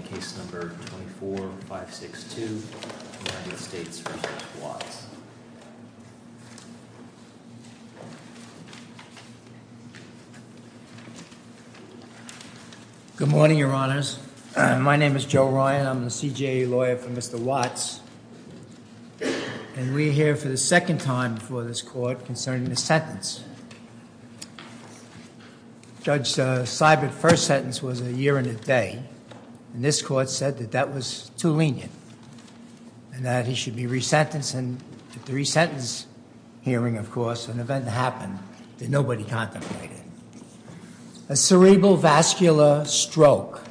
and case number 24562, United States v. Watts. Good morning, your honors. My name is Joe Ryan. I'm the CJA lawyer for Mr. Watts, and we're here for the second time before this court concerning this sentence. Judge Seibert's first sentence was a year and a day. And this court said that that was too lenient, and that he should be resentencing. At the resentence hearing, of course, an event happened that nobody contemplated. A cerebral vascular stroke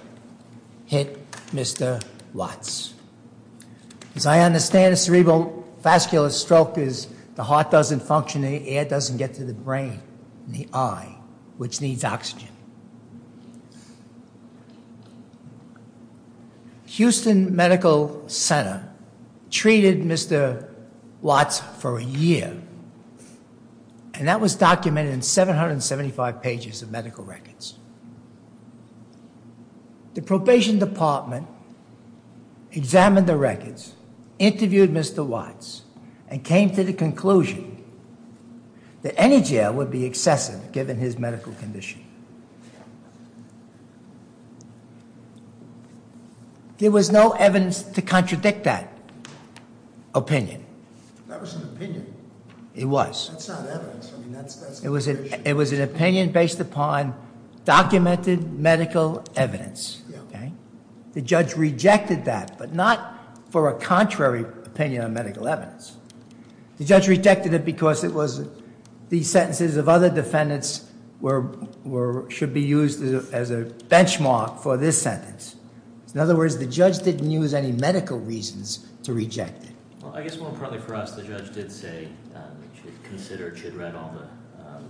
hit Mr. Watts. As I understand, a cerebral vascular stroke is the heart doesn't function, the air doesn't get to the brain, the eye, which needs oxygen. Houston Medical Center treated Mr. Watts for a year, and that was documented in 775 pages of medical records. The probation department examined the records, interviewed Mr. Watts, and came to the conclusion that any jail would be excessive given his medical condition. There was no evidence to contradict that opinion. That was an opinion. It was. That's not evidence. It was an opinion based upon documented medical evidence. The judge rejected that, but not for a contrary opinion on medical evidence. The judge rejected it because it was the sentences of other defendants should be used as a benchmark for this sentence. In other words, the judge didn't use any medical reasons to reject it. Well, I guess more importantly for us, the judge did say she'd read all the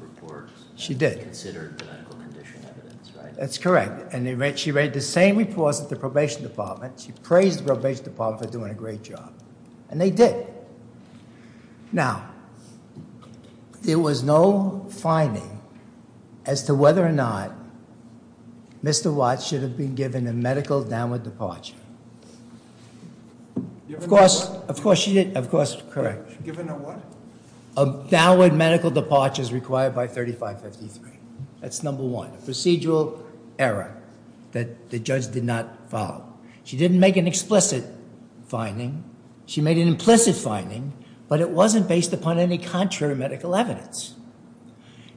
reports. She did. She considered the medical condition evidence, right? That's correct. And she read the same reports at the probation department. She praised the probation department for doing a great job. And they did. Now, there was no finding as to whether or not Mr. Watts should have been given a medical downward departure. Of course, she did. Of course, correct. Given a what? A downward medical departure is required by 3553. That's number one, a procedural error that the judge did not follow. She didn't make an explicit finding. She made an implicit finding, but it wasn't based upon any contrary medical evidence.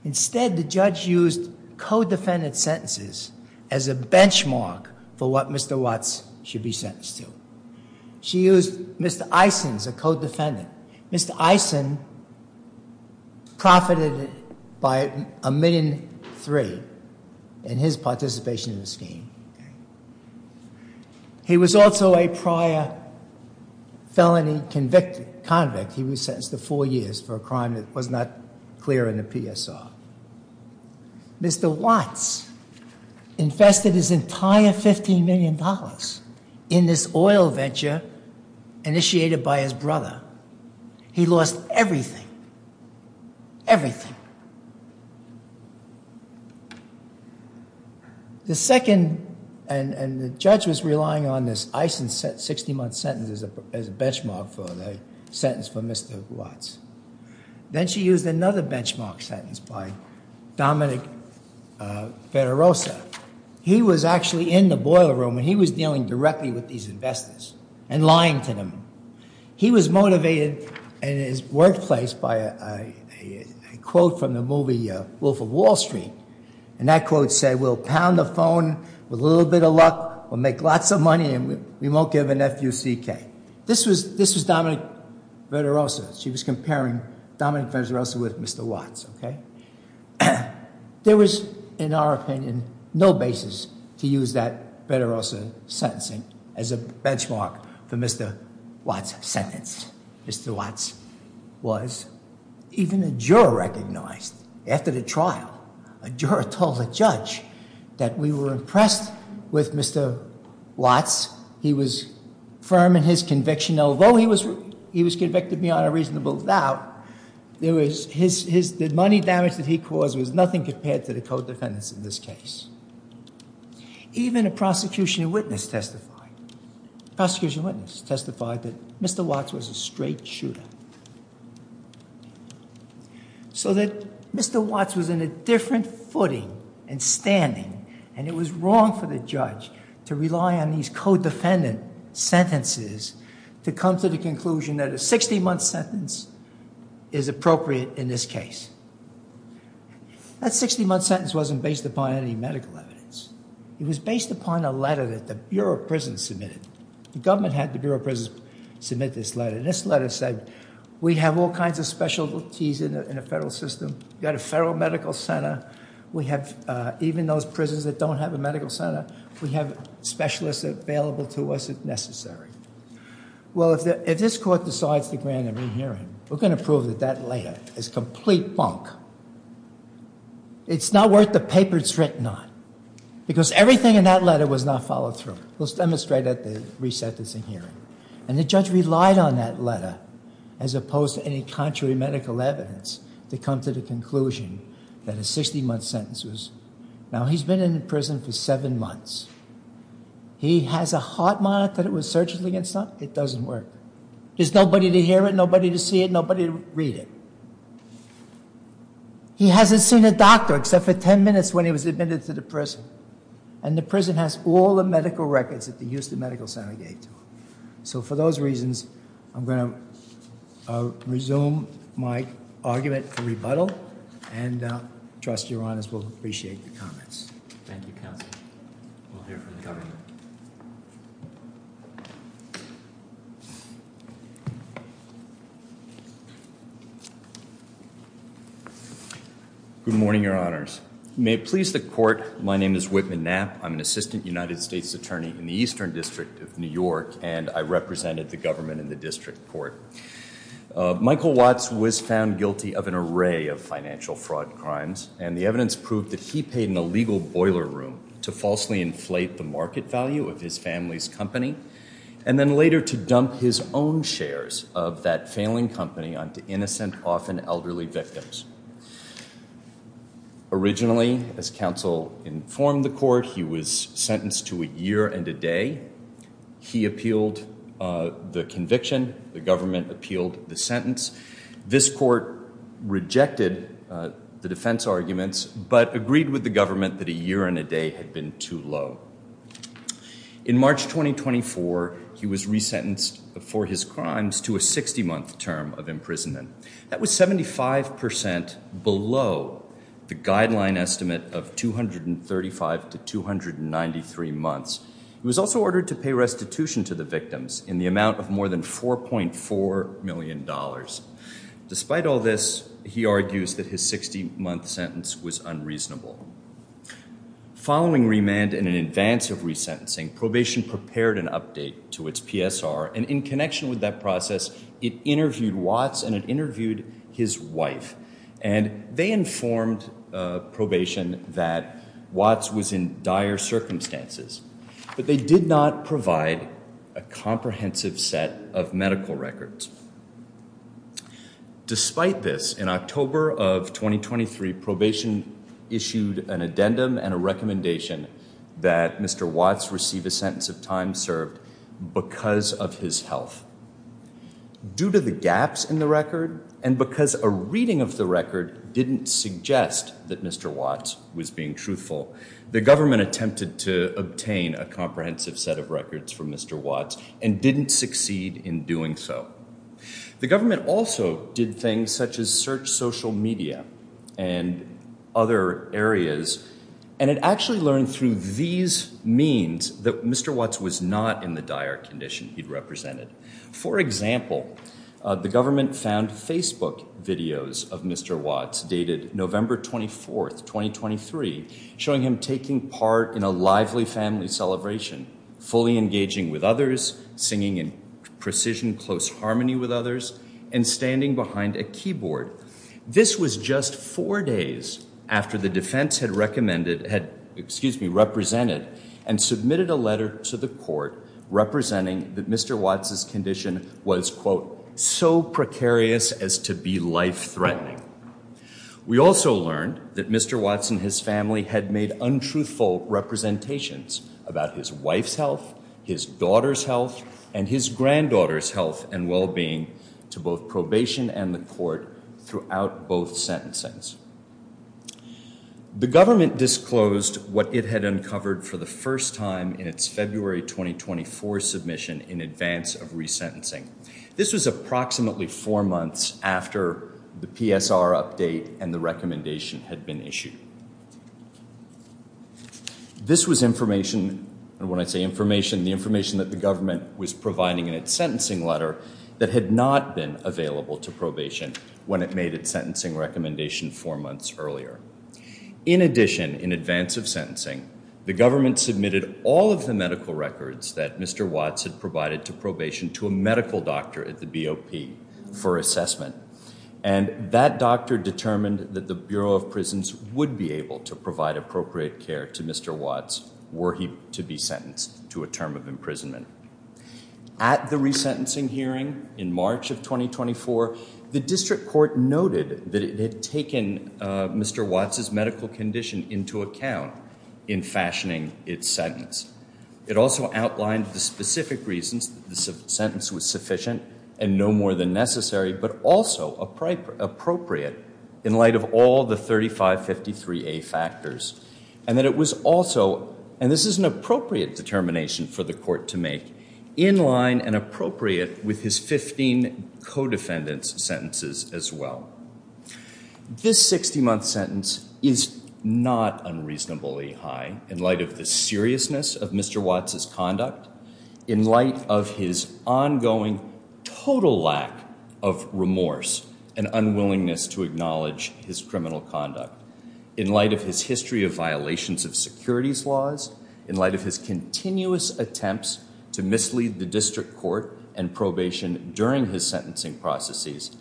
Instead, the judge used co-defendant sentences as a benchmark for what Mr. Watts should be sentenced to. She used Mr. Isons, a co-defendant. Mr. Ison profited by a million three in his participation in the scheme. He was also a prior felony convict. He was sentenced to four years for a crime that was not clear in the PSR. Mr. Watts infested his entire $15 million in this oil venture initiated by his brother. He lost everything, everything. The second, and the judge was relying on this Ison 60-month sentence as a benchmark for the sentence for Mr. Watts. Then she used another benchmark sentence by Dominic Federosa. He was actually in the boiler room, and he was dealing directly with these investors and lying to them. He was motivated in his workplace by a quote from the movie Wolf of Wall Street. And that quote said, we'll pound the phone with a little bit of luck, we'll make lots of money, and we won't give an F-U-C-K. This was Dominic Federosa. She was comparing Dominic Federosa with Mr. Watts, okay? There was, in our opinion, no basis to use that Federosa sentencing as a benchmark for Mr. Watts' sentence. Mr. Watts was, even a juror recognized after the trial, a juror told a judge that we were impressed with Mr. Watts. He was firm in his conviction, although he was convicted beyond a reasonable doubt. The money damage that he caused was nothing compared to the co-defendants in this case. Even a prosecution witness testified that Mr. Watts was a straight shooter. So that Mr. Watts was in a different footing and standing, and it was wrong for the judge to rely on these co-defendant sentences to come to the conclusion that a 60-month sentence is appropriate in this case. That 60-month sentence wasn't based upon any medical evidence. It was based upon a letter that the Bureau of Prisons submitted. The government had the Bureau of Prisons submit this letter, and this letter said, we have all kinds of specialties in the federal system. We've got a federal medical center. We have, even those prisons that don't have a medical center, we have specialists available to us if necessary. Well, if this court decides to grant a re-hearing, we're going to prove that that letter is complete bunk. It's not worth the paper it's written on, because everything in that letter was not followed through. Let's demonstrate that at the re-sentencing hearing. And the judge relied on that letter, as opposed to any contrary medical evidence, to come to the conclusion that a 60-month sentence was. Now, he's been in prison for seven months. He has a heart monitor that it was surgically installed. It doesn't work. There's nobody to hear it, nobody to see it, nobody to read it. He hasn't seen a doctor except for ten minutes when he was admitted to the prison. And the prison has all the medical records that the Houston Medical Center gave to him. So for those reasons, I'm going to resume my argument for rebuttal. And trust your honors will appreciate the comments. Thank you, counsel. We'll hear from the government. Good morning, your honors. May it please the court, my name is Whitman Knapp. I'm an assistant United States attorney in the Eastern District of New York, and I represented the government in the district court. Michael Watts was found guilty of an array of financial fraud crimes. And the evidence proved that he paid in a legal boiler room to falsely inflate the market value of his family's company, and then later to dump his own shares of that failing company onto innocent, often elderly victims. Originally, as counsel informed the court, he was sentenced to a year and a day. He appealed the conviction. The government appealed the sentence. This court rejected the defense arguments, but agreed with the government that a year and a day had been too low. In March 2024, he was resentenced for his crimes to a 60-month term of imprisonment. That was 75% below the guideline estimate of 235 to 293 months. He was also ordered to pay restitution to the victims in the amount of more than $4.4 million. Despite all this, he argues that his 60-month sentence was unreasonable. Following remand and an advance of resentencing, probation prepared an update to its PSR. And in connection with that process, it interviewed Watts and it interviewed his wife. And they informed probation that Watts was in dire circumstances. But they did not provide a comprehensive set of medical records. Despite this, in October of 2023, probation issued an addendum and a recommendation that Mr. Watts receive a sentence of time served because of his health. Due to the gaps in the record, and because a reading of the record didn't suggest that Mr. Watts was being truthful, the government attempted to obtain a comprehensive set of records for Mr. Watts and didn't succeed in doing so. The government also did things such as search social media and other areas. And it actually learned through these means that Mr. Watts was not in the dire condition he'd represented. For example, the government found Facebook videos of Mr. Watts dated November 24th, 2023, showing him taking part in a lively family celebration, fully engaging with others, singing in precision close harmony with others, and standing behind a keyboard. This was just four days after the defense had recommended, had, excuse me, represented and submitted a letter to the court representing that Mr. Watts' condition was, quote, so precarious as to be life threatening. We also learned that Mr. Watts and his family had made untruthful representations about his wife's health, his daughter's health, and his granddaughter's health and well-being to both probation and the court throughout both sentencings. The government disclosed what it had uncovered for the first time in its February 2024 submission in advance of resentencing. This was approximately four months after the PSR update and the recommendation had been issued. This was information, and when I say information, the information that the government was providing in its sentencing letter that had not been available to probation when it made its sentencing recommendation four months earlier. In addition, in advance of sentencing, the government submitted all of the medical records that Mr. Watts had provided to probation to a medical doctor at the BOP for assessment. And that doctor determined that the Bureau of Prisons would be able to provide appropriate care to Mr. Watts were he to be sentenced to a term of imprisonment. At the resentencing hearing in March of 2024, the district court noted that it had taken Mr. Watts' medical condition into account in fashioning its sentence. It also outlined the specific reasons that the sentence was sufficient and no more than necessary, but also appropriate in light of all the 3553A factors. And that it was also, and this is an appropriate determination for the court to make, in line and appropriate with his 15 co-defendants' sentences as well. This 60-month sentence is not unreasonably high in light of the seriousness of Mr. Watts' conduct, in light of his ongoing total lack of remorse and unwillingness to acknowledge his criminal conduct, in light of his history of violations of securities laws, in light of his continuous attempts to mislead the district court and probation during his sentencing processes,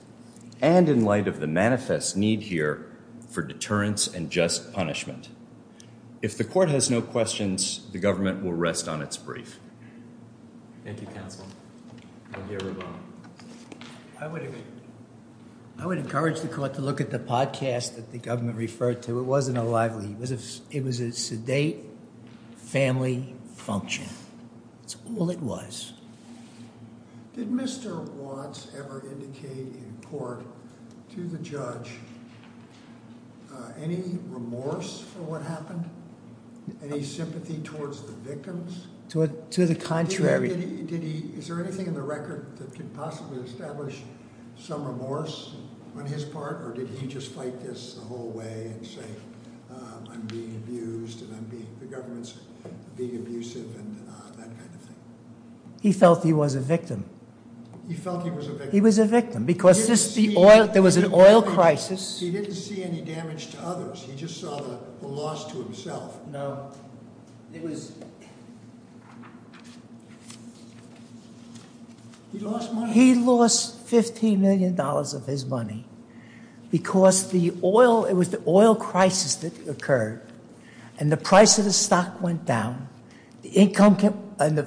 and in light of the manifest need here for deterrence and just punishment. If the court has no questions, the government will rest on its brief. Thank you, counsel. Thank you, everyone. I would encourage the court to look at the podcast that the government referred to. It wasn't a lively, it was a sedate family function. That's all it was. Did Mr. Watts ever indicate in court to the judge any remorse for what happened? Any sympathy towards the victims? To the contrary. Is there anything in the record that could possibly establish some remorse on his part, or did he just fight this the whole way and say, I'm being abused and the government's being abusive and that kind of thing? He felt he was a victim. He felt he was a victim? He was a victim because there was an oil crisis. He didn't see any damage to others. He just saw the loss to himself. No, it was He lost money. He lost $15 million of his money because it was the oil crisis that occurred. And the price of the stock went down. The income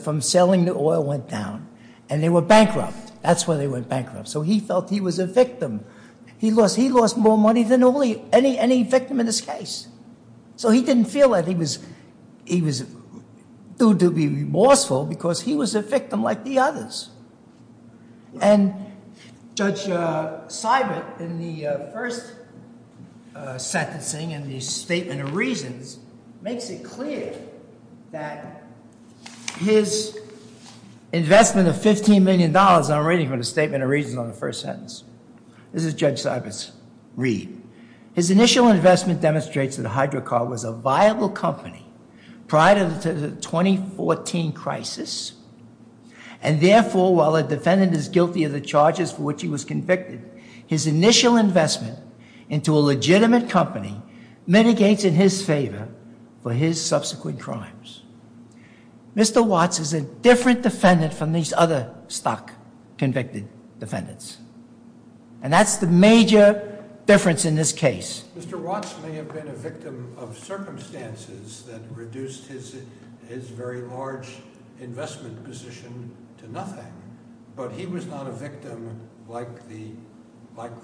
from selling the oil went down. And they were bankrupt. That's why they went bankrupt. So he felt he was a victim. He lost more money than any victim in this case. So he didn't feel that he was due to be remorseful because he was a victim like the others. And Judge Seibert, in the first sentencing and the statement of reasons, makes it clear that his investment of $15 million, and I'm reading from the statement of reasons on the first sentence. This is Judge Seibert's read. His initial investment demonstrates that Hydrocar was a viable company prior to the 2014 crisis. And therefore, while a defendant is guilty of the charges for which he was convicted, his initial investment into a legitimate company mitigates in his favor for his subsequent crimes. Mr. Watts is a different defendant from these other stock convicted defendants. And that's the major difference in this case. Mr. Watts may have been a victim of circumstances that reduced his very large investment position to nothing. But he was not a victim like the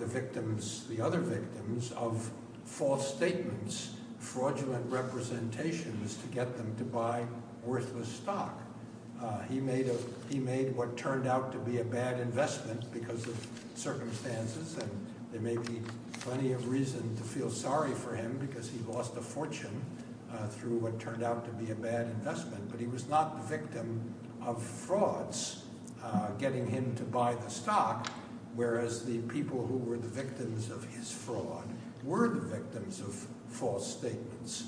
victims, the other victims, of false statements, fraudulent representations to get them to buy worthless stock. He made what turned out to be a bad investment because of circumstances. And there may be plenty of reason to feel sorry for him, because he lost a fortune through what turned out to be a bad investment. But he was not the victim of frauds getting him to buy the stock, whereas the people who were the victims of his fraud were the victims of false statements.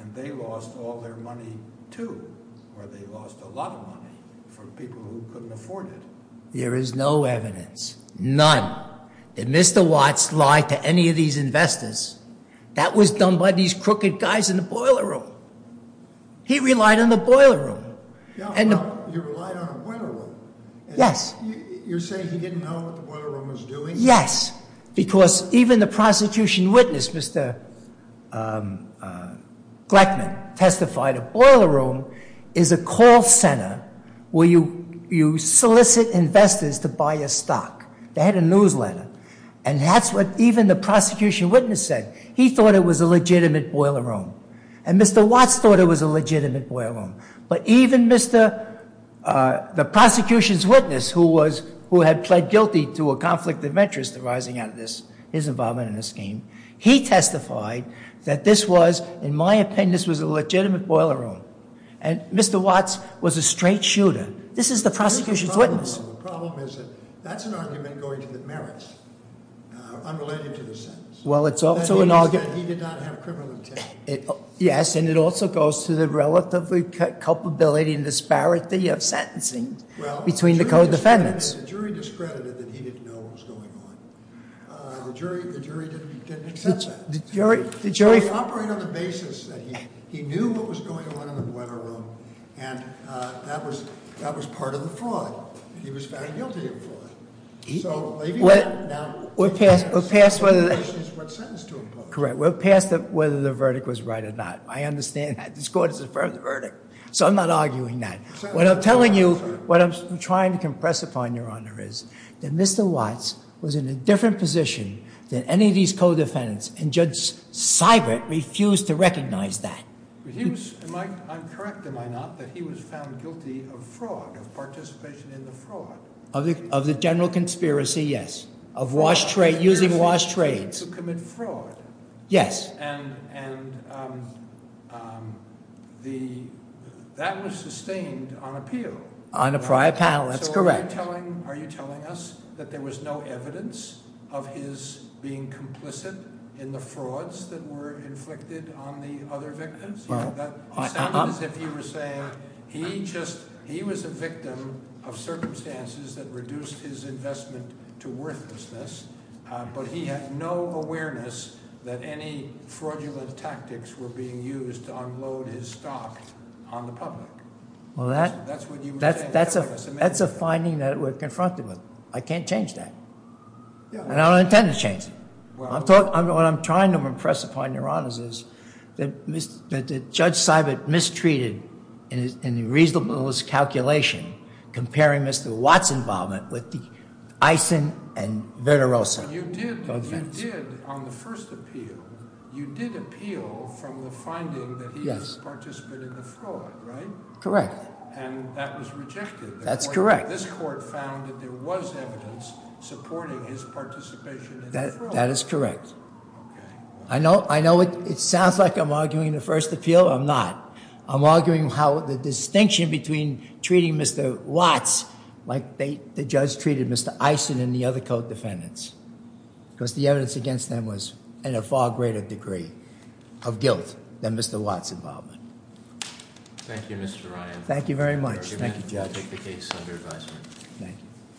And they lost all their money too, or they lost a lot of money from people who couldn't afford it. There is no evidence, none, that Mr. Watts lied to any of these investors. That was done by these crooked guys in the boiler room. He relied on the boiler room. And- You relied on a boiler room? Yes. You're saying he didn't know what the boiler room was doing? Yes, because even the prosecution witness, Mr. Gleckman, testified a boiler room is a call center where you solicit investors to buy your stock. They had a newsletter. And that's what even the prosecution witness said. He thought it was a legitimate boiler room. And Mr. Watts thought it was a legitimate boiler room. But even Mr., the prosecution's witness who had pled guilty to a conflict of interest arising out of this, his involvement in this scheme. He testified that this was, in my opinion, this was a legitimate boiler room. And Mr. Watts was a straight shooter. This is the prosecution's witness. The problem is that that's an argument going to the merits, unrelated to the sentence. Well, it's also an argument- That means that he did not have criminal intent. Yes, and it also goes to the relatively culpability and disparity of sentencing between the co-defendants. Well, the jury discredited that he didn't know what was going on. The jury didn't accept that. The jury operated on the basis that he knew what was going on in the boiler room, and that was part of the fraud. He was found guilty of fraud. So maybe that- Now, we're past whether- The question is what sentence to impose. Correct, we're past whether the verdict was right or not. I understand that. This court has affirmed the verdict. So I'm not arguing that. What I'm telling you, what I'm trying to compress upon, Your Honor, is that Mr. Watts was in a different position than any of these co-defendants, and Judge Seibert refused to recognize that. But he was, am I correct, am I not, that he was found guilty of fraud, of participation in the fraud? Of the general conspiracy, yes. Of using washed trades. To commit fraud. Yes. And that was sustained on appeal. On a prior panel, that's correct. Are you telling us that there was no evidence of his being complicit in the frauds that were inflicted on the other victims? Well, I- It sounded as if you were saying he just, he was a victim of circumstances that reduced his investment to worthlessness. But he had no awareness that any fraudulent tactics were being used to unload his stock on the public. Well, that's a finding that we're confronted with. I can't change that, and I don't intend to change it. What I'm trying to impress upon your honors is that Judge Seibert mistreated, in the reasonableness calculation, comparing Mr. Watts' involvement with the Eisen and Verderosa. You did, on the first appeal, you did appeal from the finding that he participated in the fraud, right? Correct. And that was rejected. That's correct. This court found that there was evidence supporting his participation in the fraud. That is correct. I know it sounds like I'm arguing the first appeal, I'm not. I'm arguing how the distinction between treating Mr. Watts like the judge treated Mr. Eisen and the other co-defendants. because the evidence against them was in a far greater degree of guilt than Mr. Watts' involvement. Thank you, Mr. Ryan. Thank you very much. Thank you, Judge. I'll take the case under advisement. Thank you.